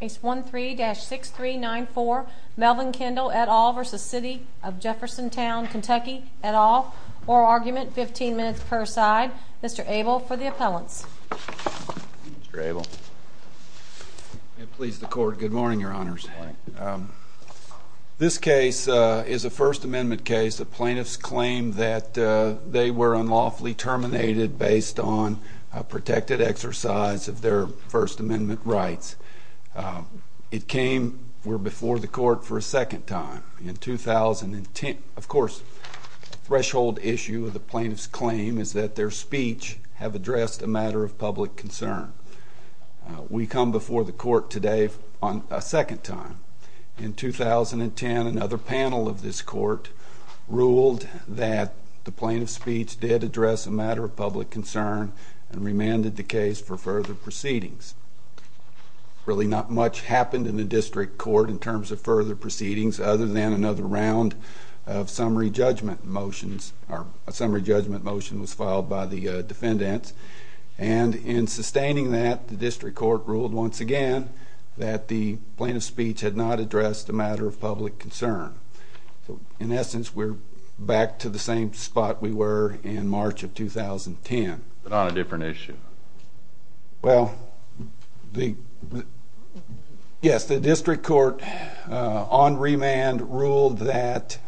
Case 13-6394 Melvin Kindle et al. v. City of Jeffersontown KY et al. Oral argument, 15 minutes per side. Mr. Abel for the appellants. Mr. Abel. May it please the Court. Good morning, Your Honors. This case is a First Amendment case. The plaintiffs claim that they were unlawfully terminated based on a protected exercise of their First Amendment rights. It came before the Court for a second time in 2010. Of course, the threshold issue of the plaintiffs' claim is that their speech have addressed a matter of public concern. We come before the Court today a second time. In 2010, another panel of this Court ruled that the plaintiff's speech did address a matter of public concern and remanded the case for further proceedings. Really not much happened in the District Court in terms of further proceedings other than another round of summary judgment motions. A summary judgment motion was filed by the defendants. And in sustaining that, the District Court ruled once again that the plaintiff's speech had not addressed a matter of public concern. So, in essence, we're back to the same spot we were in March of 2010. But on a different issue. Well, yes, the District Court, on remand, ruled that,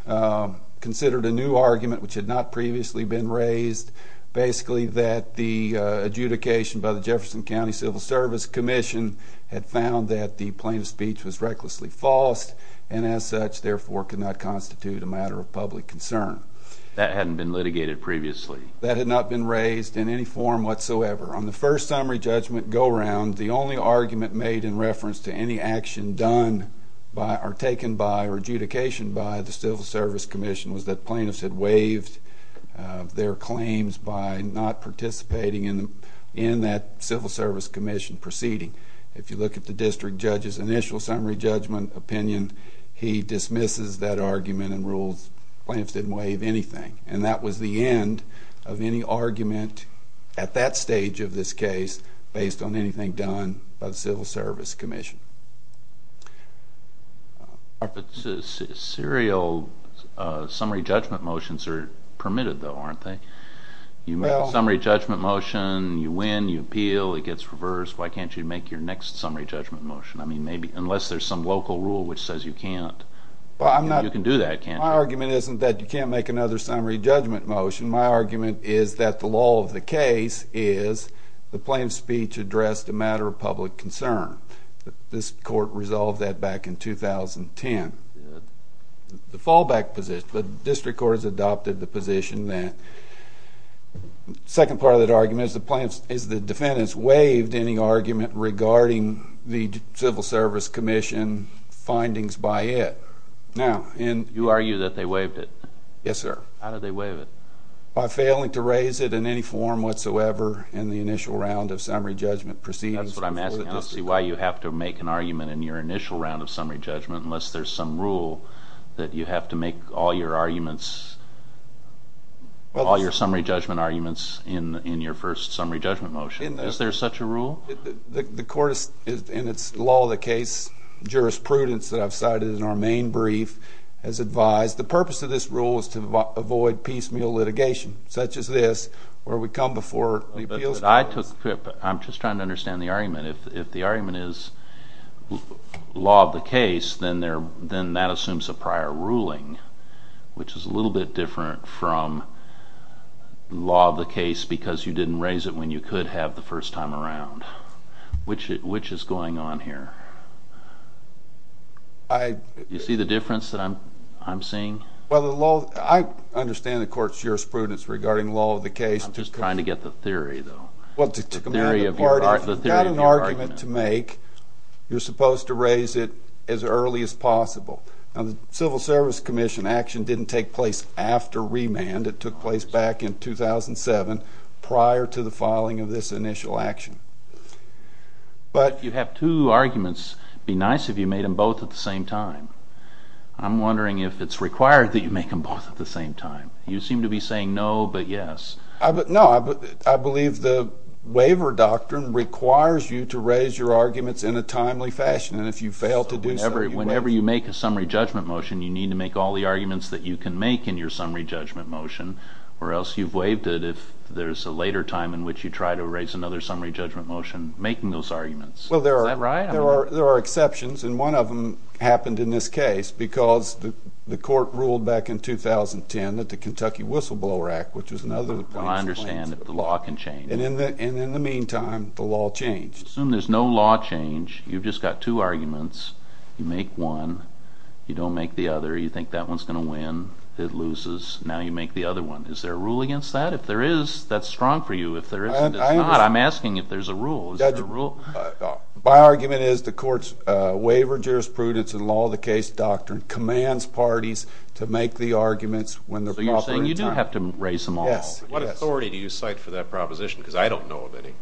considered a new argument which had not previously been raised, basically that the adjudication by the Jefferson County Civil Service Commission had found that the plaintiff's speech was recklessly false, and as such, therefore, could not constitute a matter of public concern. That hadn't been litigated previously? That had not been raised in any form whatsoever. On the first summary judgment go-round, the only argument made in reference to any action done or taken by or adjudication by the Civil Service Commission was that plaintiffs had waived their claims by not participating in that Civil Service Commission proceeding. If you look at the District Judge's initial summary judgment opinion, he dismisses that argument and rules plaintiffs didn't waive anything. And that was the end of any argument at that stage of this case based on anything done by the Civil Service Commission. But serial summary judgment motions are permitted, though, aren't they? You make a summary judgment motion, you win, you appeal, it gets reversed. Why can't you make your next summary judgment motion? I mean, unless there's some local rule which says you can't, you can do that, can't you? My argument isn't that you can't make another summary judgment motion. My argument is that the law of the case is the plaintiff's speech addressed a matter of public concern. This court resolved that back in 2010. The fallback position, the district court has adopted the position that the second part of that argument is the defendant's waived any argument regarding the Civil Service Commission findings by it. You argue that they waived it. Yes, sir. How did they waive it? By failing to raise it in any form whatsoever in the initial round of summary judgment proceedings. That's what I'm asking. I don't see why you have to make an argument in your initial round of summary judgment unless there's some rule that you have to make all your arguments, all your summary judgment arguments in your first summary judgment motion. Is there such a rule? The court in its law of the case jurisprudence that I've cited in our main brief has advised the purpose of this rule is to avoid piecemeal litigation such as this where we come before the appeals court. I'm just trying to understand the argument. If the argument is law of the case, then that assumes a prior ruling, which is a little bit different from law of the case because you didn't raise it when you could have the first time around. Which is going on here? Do you see the difference that I'm seeing? I understand the court's jurisprudence regarding law of the case. I'm just trying to get the theory, though. If you've got an argument to make, you're supposed to raise it as early as possible. Now, the Civil Service Commission action didn't take place after remand. It took place back in 2007 prior to the filing of this initial action. But you have two arguments. It would be nice if you made them both at the same time. I'm wondering if it's required that you make them both at the same time. You seem to be saying no but yes. No, I believe the waiver doctrine requires you to raise your arguments in a timely fashion. Whenever you make a summary judgment motion, you need to make all the arguments that you can make in your summary judgment motion, or else you've waived it if there's a later time in which you try to raise another summary judgment motion making those arguments. Is that right? There are exceptions, and one of them happened in this case because the court ruled back in 2010 that the Kentucky Whistleblower Act, which was another of the plaintiffs' claims. I understand that the law can change. And in the meantime, the law changed. Assume there's no law change. You've just got two arguments. You make one. You don't make the other. You think that one's going to win. It loses. Now you make the other one. Is there a rule against that? If there is, that's strong for you. If there isn't, it's not. I'm asking if there's a rule. Is there a rule? My argument is the court's waiver jurisprudence and law of the case doctrine commands parties to make the arguments when they're proper in time. So you're saying you do have to raise them all? Yes. What authority do you cite for that proposition? Because I don't know of any.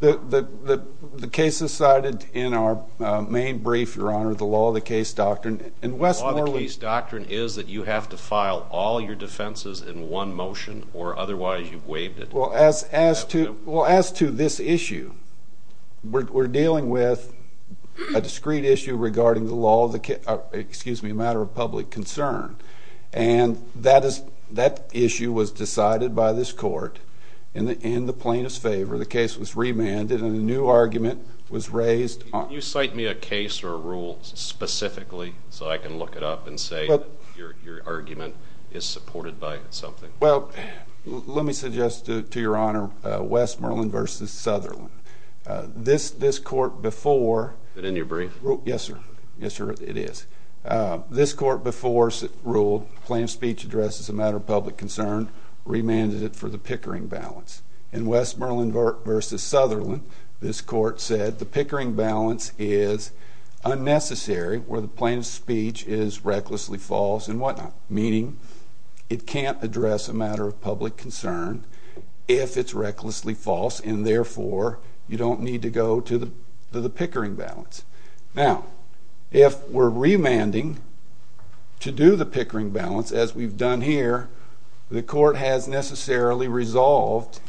The case is cited in our main brief, Your Honor, the law of the case doctrine. The law of the case doctrine is that you have to file all your defenses in one motion or otherwise you've waived it. Well, as to this issue, we're dealing with a discrete issue regarding the law of the case of public concern. And that issue was decided by this court in the plaintiff's favor. The case was remanded and a new argument was raised. Can you cite me a case or a rule specifically so I can look it up and say your argument is supported by something? Well, let me suggest to Your Honor, Westmoreland v. Southerland. This court before. Is it in your brief? Yes, sir. Yes, sir, it is. This court before ruled plaintiff's speech address is a matter of public concern, remanded it for the Pickering balance. In Westmoreland v. Southerland, this court said the Pickering balance is unnecessary where the plaintiff's speech is recklessly false and whatnot, meaning it can't address a matter of public concern if it's recklessly false and therefore you don't need to go to the Pickering balance. Now, if we're remanding to do the Pickering balance as we've done here, the court has necessarily resolved,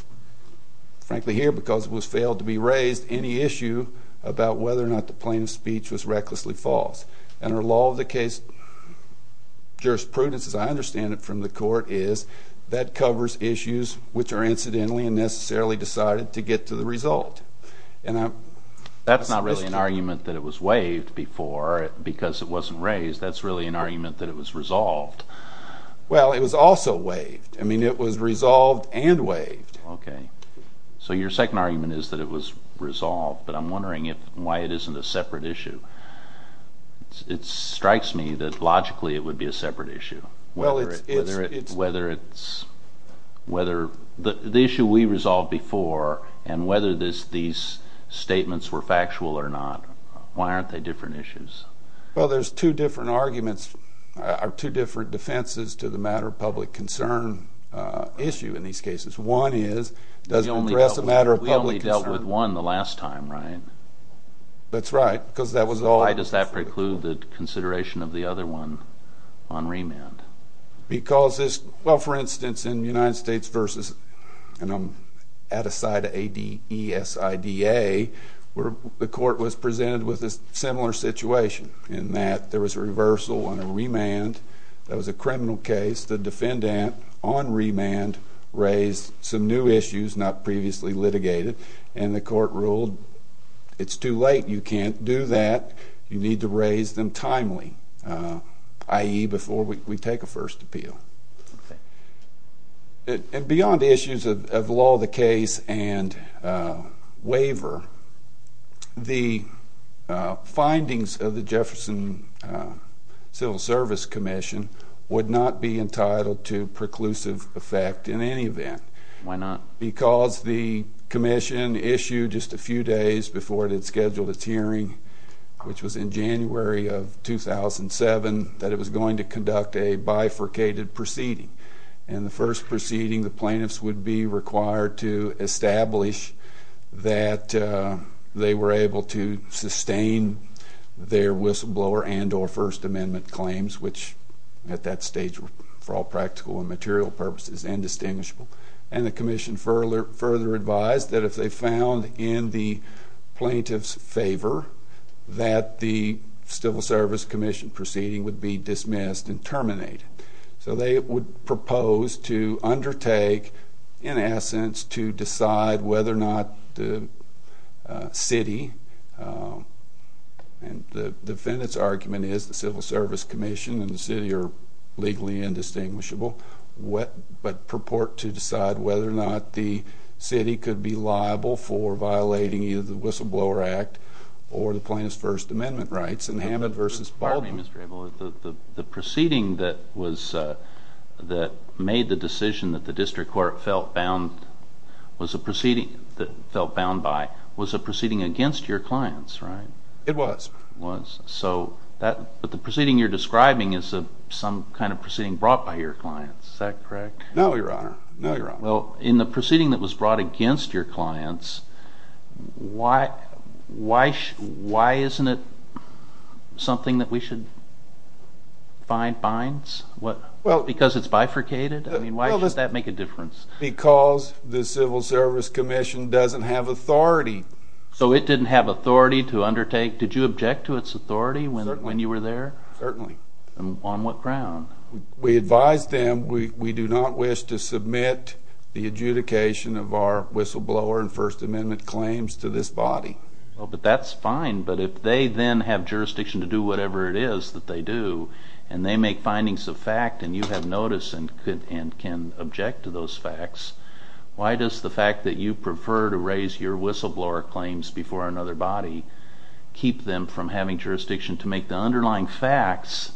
frankly here because it was failed to be raised, any issue about whether or not the plaintiff's speech was recklessly false. And our law of the case jurisprudence, as I understand it from the court, is that covers issues which are incidentally and necessarily decided to get to the result. That's not really an argument that it was waived before because it wasn't raised. That's really an argument that it was resolved. Well, it was also waived. I mean, it was resolved and waived. Okay. So your second argument is that it was resolved, but I'm wondering why it isn't a separate issue. It strikes me that logically it would be a separate issue. Whether it's the issue we resolved before and whether these statements were factual or not, why aren't they different issues? Well, there's two different arguments, or two different defenses to the matter of public concern issue in these cases. One is, does it address a matter of public concern? We only dealt with one the last time, right? That's right. Why does that preclude the consideration of the other one on remand? Because this, well, for instance, in United States versus, and I'm at a side of ADESIDA where the court was presented with a similar situation in that there was a reversal on a remand that was a criminal case. The defendant on remand raised some new issues not previously litigated, and the court ruled it's too late. You can't do that. You need to raise them timely, i.e., before we take a first appeal. Okay. And beyond issues of law of the case and waiver, the findings of the Jefferson Civil Service Commission would not be entitled to preclusive effect in any event. Why not? Because the commission issued just a few days before it had scheduled its hearing, which was in January of 2007, that it was going to conduct a bifurcated proceeding. And the first proceeding, the plaintiffs would be required to establish that they were able to sustain their whistleblower and or First Amendment claims, which at that stage were, for all practical and material purposes, indistinguishable. And the commission further advised that if they found in the plaintiff's favor that the Civil Service Commission proceeding would be dismissed and terminated. So they would propose to undertake, in essence, to decide whether or not the city, and the defendant's argument is the Civil Service Commission and the city are legally indistinguishable, but purport to decide whether or not the city could be liable for violating either the Whistleblower Act or the plaintiff's First Amendment rights in Hammett v. Baldwin. Pardon me, Mr. Abel. The proceeding that made the decision that the district court felt bound by was a proceeding against your clients, right? It was. But the proceeding you're describing is some kind of proceeding brought by your clients. Is that correct? No, Your Honor. Well, in the proceeding that was brought against your clients, why isn't it something that we should find binds? Because it's bifurcated? I mean, why should that make a difference? Because the Civil Service Commission doesn't have authority. So it didn't have authority to undertake? Did you object to its authority when you were there? Certainly. On what ground? We advised them we do not wish to submit the adjudication of our whistleblower and First Amendment claims to this body. Well, but that's fine. But if they then have jurisdiction to do whatever it is that they do, and they make findings of fact and you have notice and can object to those facts, why does the fact that you prefer to raise your whistleblower claims before another body keep them from having jurisdiction to make the underlying facts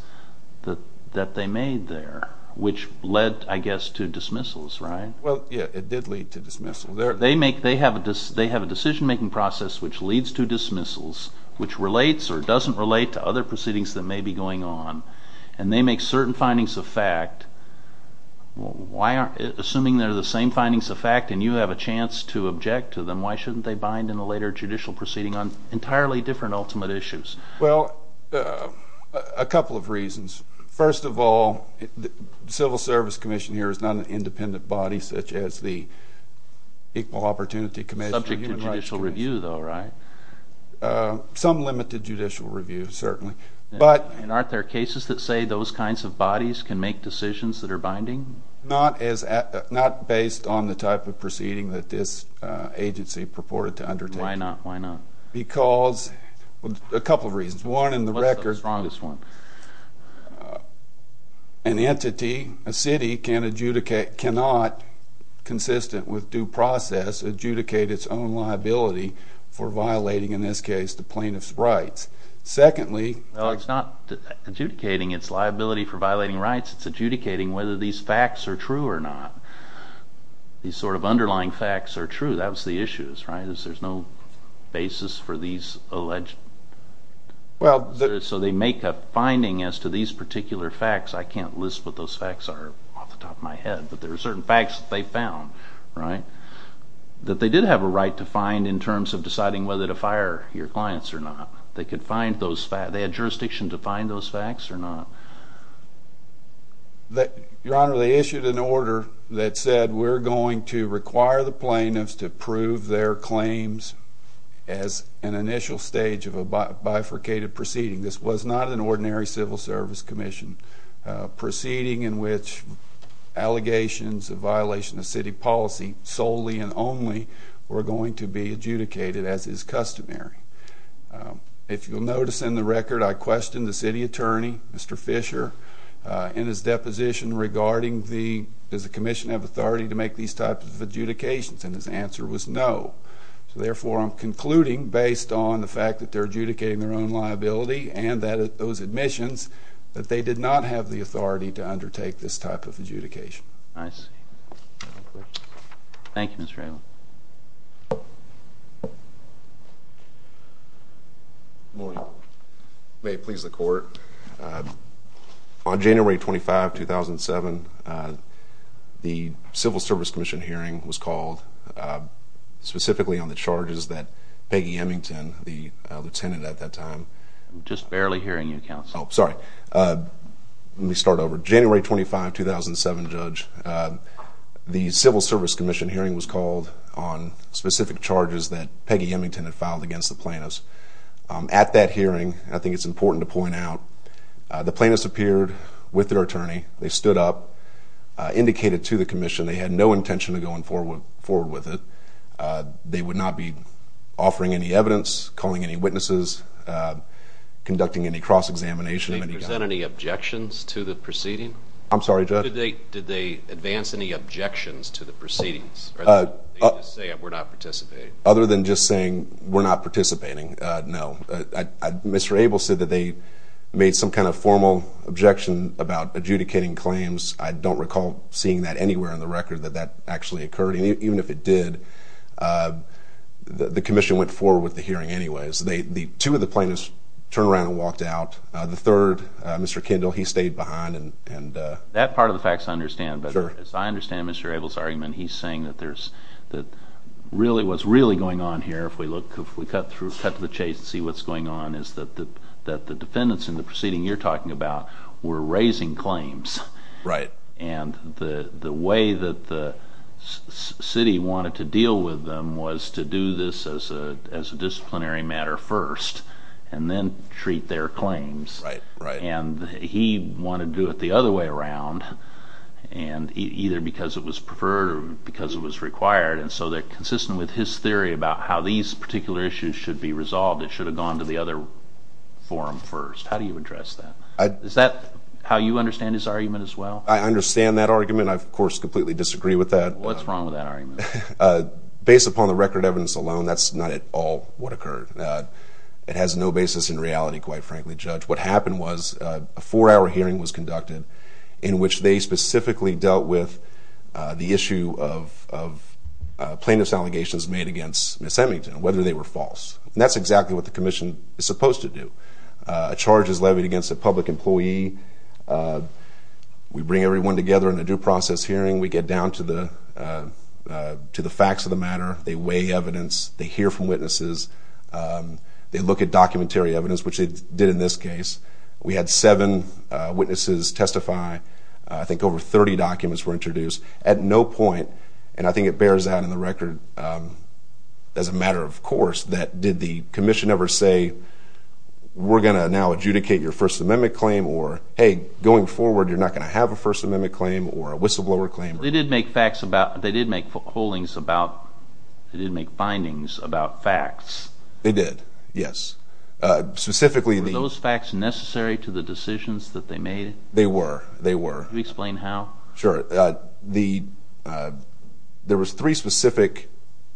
that they made there, which led, I guess, to dismissals, right? Well, yeah, it did lead to dismissal. They have a decision-making process which leads to dismissals, which relates or doesn't relate to other proceedings that may be going on, and they make certain findings of fact. Assuming they're the same findings of fact and you have a chance to object to them, why shouldn't they bind in a later judicial proceeding on entirely different ultimate issues? Well, a couple of reasons. First of all, the Civil Service Commission here is not an independent body such as the Equal Opportunity Commission. Subject to judicial review, though, right? Some limited judicial review, certainly. And aren't there cases that say those kinds of bodies can make decisions that are binding? Not based on the type of proceeding that this agency purported to undertake. Why not? Why not? Because a couple of reasons. What's the strongest one? An entity, a city, cannot, consistent with due process, adjudicate its own liability for violating, in this case, the plaintiff's rights. Secondly, Well, it's not adjudicating its liability for violating rights. It's adjudicating whether these facts are true or not. These sort of underlying facts are true. That was the issue, right, is there's no basis for these alleged. Well, So they make a finding as to these particular facts. I can't list what those facts are off the top of my head, but there are certain facts that they found, right, that they did have a right to find in terms of deciding whether to fire your clients or not. They had jurisdiction to find those facts or not. Your Honor, they issued an order that said, we're going to require the plaintiffs to prove their claims as an initial stage of a bifurcated proceeding. This was not an ordinary civil service commission proceeding in which allegations of violation of city policy solely and only were going to be adjudicated as is customary. If you'll notice in the record, I questioned the city attorney, Mr. Fisher, in his deposition regarding does the commission have authority to make these types of adjudications, and his answer was no. So therefore, I'm concluding, based on the fact that they're adjudicating their own liability and those admissions, that they did not have the authority to undertake this type of adjudication. I see. Thank you, Mr. Rayland. Good morning. May it please the Court. On January 25, 2007, the Civil Service Commission hearing was called specifically on the charges that Peggy Emington, the lieutenant at that time... I'm just barely hearing you, counsel. Oh, sorry. Let me start over. January 25, 2007, Judge, the Civil Service Commission hearing was called on specific charges that Peggy Emington had filed against the plaintiffs. At that hearing, I think it's important to point out, the plaintiffs appeared with their attorney. They stood up, indicated to the commission they had no intention of going forward with it. They would not be offering any evidence, calling any witnesses, conducting any cross-examination. Did they present any objections to the proceeding? I'm sorry, Judge? Did they advance any objections to the proceedings? Or did they just say, we're not participating? Other than just saying, we're not participating, no. Mr. Abel said that they made some kind of formal objection about adjudicating claims. I don't recall seeing that anywhere in the record, that that actually occurred. Even if it did, the commission went forward with the hearing anyway. Two of the plaintiffs turned around and walked out. The third, Mr. Kendall, he stayed behind. That part of the facts I understand, but as I understand Mr. Abel's argument, he's saying that what's really going on here, if we cut to the chase and see what's going on, is that the defendants in the proceeding you're talking about were raising claims. Right. The way that the city wanted to deal with them was to do this as a disciplinary matter first and then treat their claims. Right. He wanted to do it the other way around, either because it was preferred or because it was required. So they're consistent with his theory about how these particular issues should be resolved. It should have gone to the other forum first. How do you address that? Is that how you understand his argument as well? I understand that argument. I, of course, completely disagree with that. What's wrong with that argument? Based upon the record evidence alone, that's not at all what occurred. It has no basis in reality, quite frankly, Judge. What happened was a four-hour hearing was conducted in which they specifically dealt with the issue of plaintiff's allegations made against Ms. Emington, whether they were false. That's exactly what the commission is supposed to do. A charge is levied against a public employee. We bring everyone together in a due process hearing. We get down to the facts of the matter. They weigh evidence. They hear from witnesses. They look at documentary evidence, which they did in this case. We had seven witnesses testify. I think over 30 documents were introduced. At no point, and I think it bears out in the record as a matter of course, did the commission ever say, we're going to now adjudicate your First Amendment claim or, hey, going forward, you're not going to have a First Amendment claim or a whistleblower claim. They did make findings about facts. They did, yes. Were those facts necessary to the decisions that they made? They were. Can you explain how? Sure. There was three specific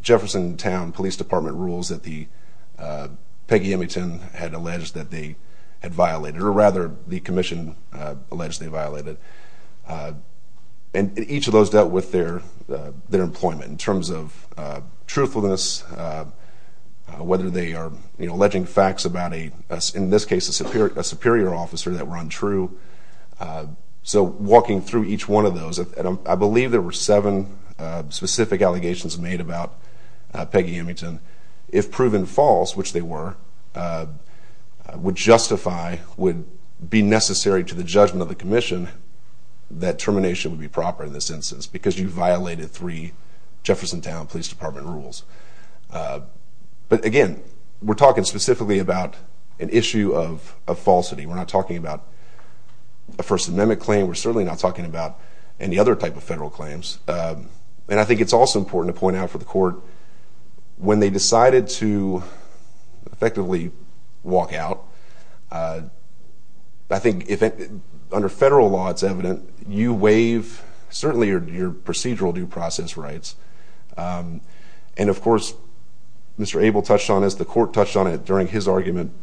Jeffersontown Police Department rules that Peggy Emington had alleged that they had violated, or rather the commission alleged they violated. And each of those dealt with their employment in terms of truthfulness, whether they are alleging facts about a, in this case, a superior officer that were untrue. So walking through each one of those, I believe there were seven specific allegations made about Peggy Emington. If proven false, which they were, would justify, would be necessary to the judgment of the commission that termination would be proper in this instance because you violated three Jeffersontown Police Department rules. But, again, we're talking specifically about an issue of falsity. We're not talking about a First Amendment claim. We're certainly not talking about any other type of federal claims. And I think it's also important to point out for the court, when they decided to effectively walk out, I think under federal law it's evident you waive certainly your procedural due process rights. And, of course, Mr. Abel touched on this. The court touched on it during his argument.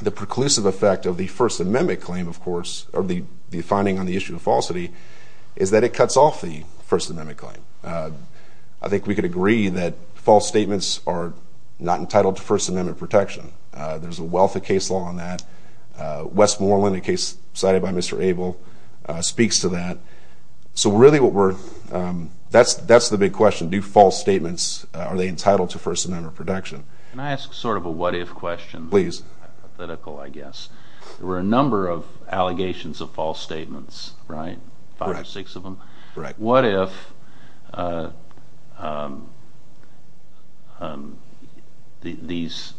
The preclusive effect of the First Amendment claim, of course, or the finding on the issue of falsity, is that it cuts off the First Amendment claim. I think we could agree that false statements are not entitled to First Amendment protection. There's a wealth of case law on that. Westmoreland, a case cited by Mr. Abel, speaks to that. So really what we're, that's the big question. Do false statements, are they entitled to First Amendment protection? Can I ask sort of a what-if question? Hypothetical, I guess. There were a number of allegations of false statements, right? Five or six of them? Right. What if these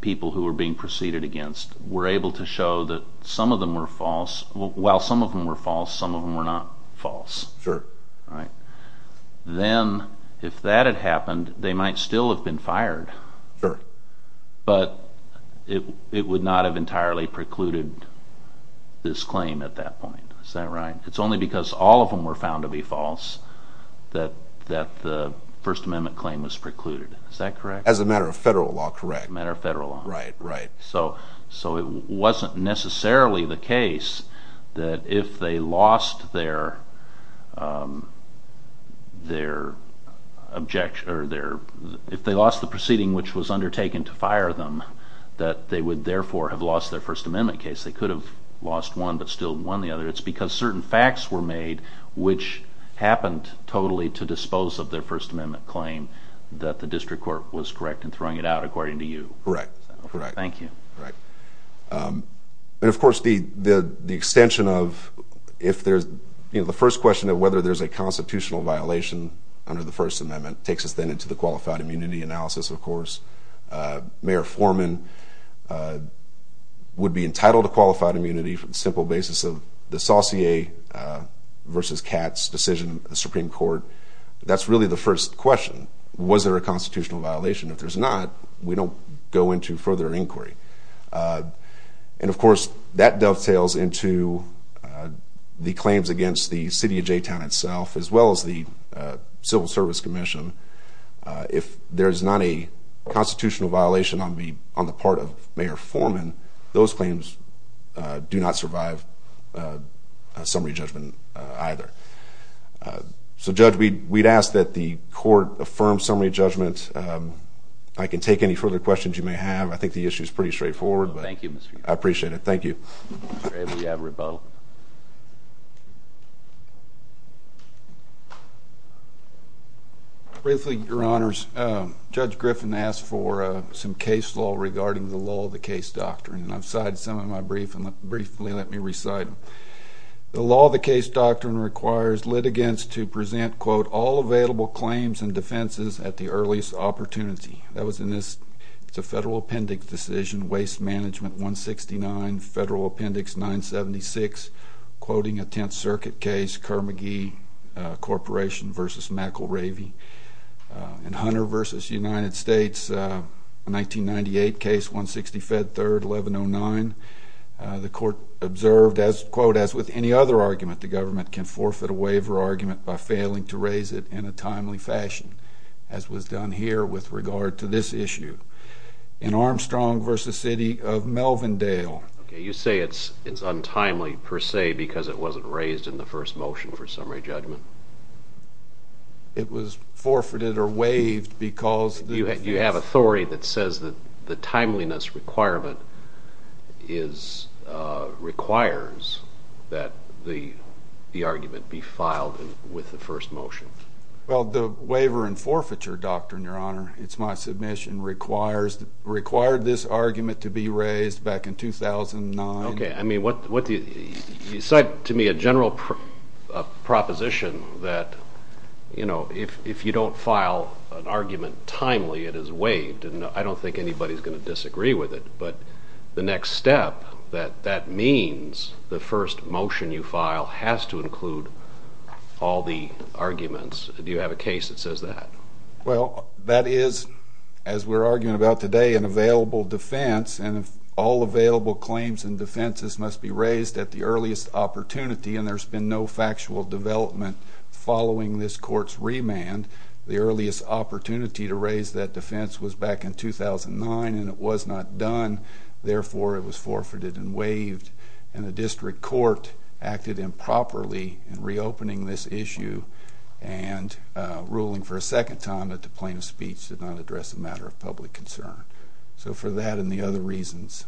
people who were being preceded against were able to show that some of them were false, while some of them were false, some of them were not false? Sure. Then, if that had happened, they might still have been fired. Sure. But it would not have entirely precluded this claim at that point. Is that right? It's only because all of them were found to be false that the First Amendment claim was precluded. Is that correct? As a matter of federal law, correct. As a matter of federal law. Right, right. So it wasn't necessarily the case that if they lost their, if they lost the proceeding which was undertaken to fire them, that they would therefore have lost their First Amendment case. They could have lost one but still won the other. It's because certain facts were made which happened totally to dispose of their First Amendment claim that the district court was correct in throwing it out according to you. Correct, correct. Thank you. Right. And, of course, the extension of if there's, you know, the first question of whether there's a constitutional violation under the First Amendment takes us then into the qualified immunity analysis, of course. Mayor Foreman would be entitled to qualified immunity for the simple basis of the Saucier versus Katz decision, the Supreme Court. That's really the first question. Was there a constitutional violation? If there's not, we don't go into further inquiry. And, of course, that dovetails into the claims against the city of J-Town itself as well as the Civil Service Commission. If there's not a constitutional violation on the part of Mayor Foreman, those claims do not survive summary judgment either. So, Judge, we'd ask that the court affirm summary judgment. I can take any further questions you may have. I think the issue is pretty straightforward. Thank you, Mr. Gifford. I appreciate it. Thank you. Mr. Abel, you have rebuttal. Briefly, Your Honors, Judge Griffin asked for some case law regarding the law of the case doctrine. And I've cited some of them briefly. Let me recite them. The law of the case doctrine requires litigants to present, quote, all available claims and defenses at the earliest opportunity. That was in this Federal Appendix decision, Waste Management 169, Federal Appendix 976, quoting a Tenth Circuit case, Kerr-McGee Corporation versus McElravy. In Hunter versus United States, a 1998 case, 160 Fed 3rd, 1109, the court observed, quote, as with any other argument, the government can forfeit a waiver argument by failing to raise it in a timely fashion, as was done here with regard to this issue. In Armstrong versus City of Melvindale. Okay. You say it's untimely per se because it wasn't raised in the first motion for summary judgment. It was forfeited or waived because the defense. I'm afraid that says that the timeliness requirement requires that the argument be filed with the first motion. Well, the waiver and forfeiture doctrine, Your Honor, it's my submission, required this argument to be raised back in 2009. Okay. You cite to me a general proposition that, you know, if you don't file an argument timely, it is waived, and I don't think anybody's going to disagree with it, but the next step, that that means the first motion you file has to include all the arguments. Do you have a case that says that? Well, that is, as we're arguing about today, an available defense, and if all available claims and defenses must be raised at the earliest opportunity, and there's been no factual development following this court's remand, the earliest opportunity to raise that defense was back in 2009, and it was not done. Therefore, it was forfeited and waived, and the district court acted improperly in reopening this issue and ruling for a second time that the plaintiff's speech did not address a matter of public concern. So for that and the other reasons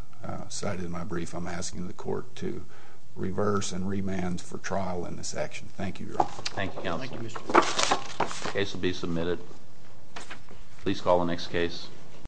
cited in my brief, I'm asking the court to reverse and remand for trial in this action. Thank you, Your Honor. Thank you, counsel. The case will be submitted. Please call the next case.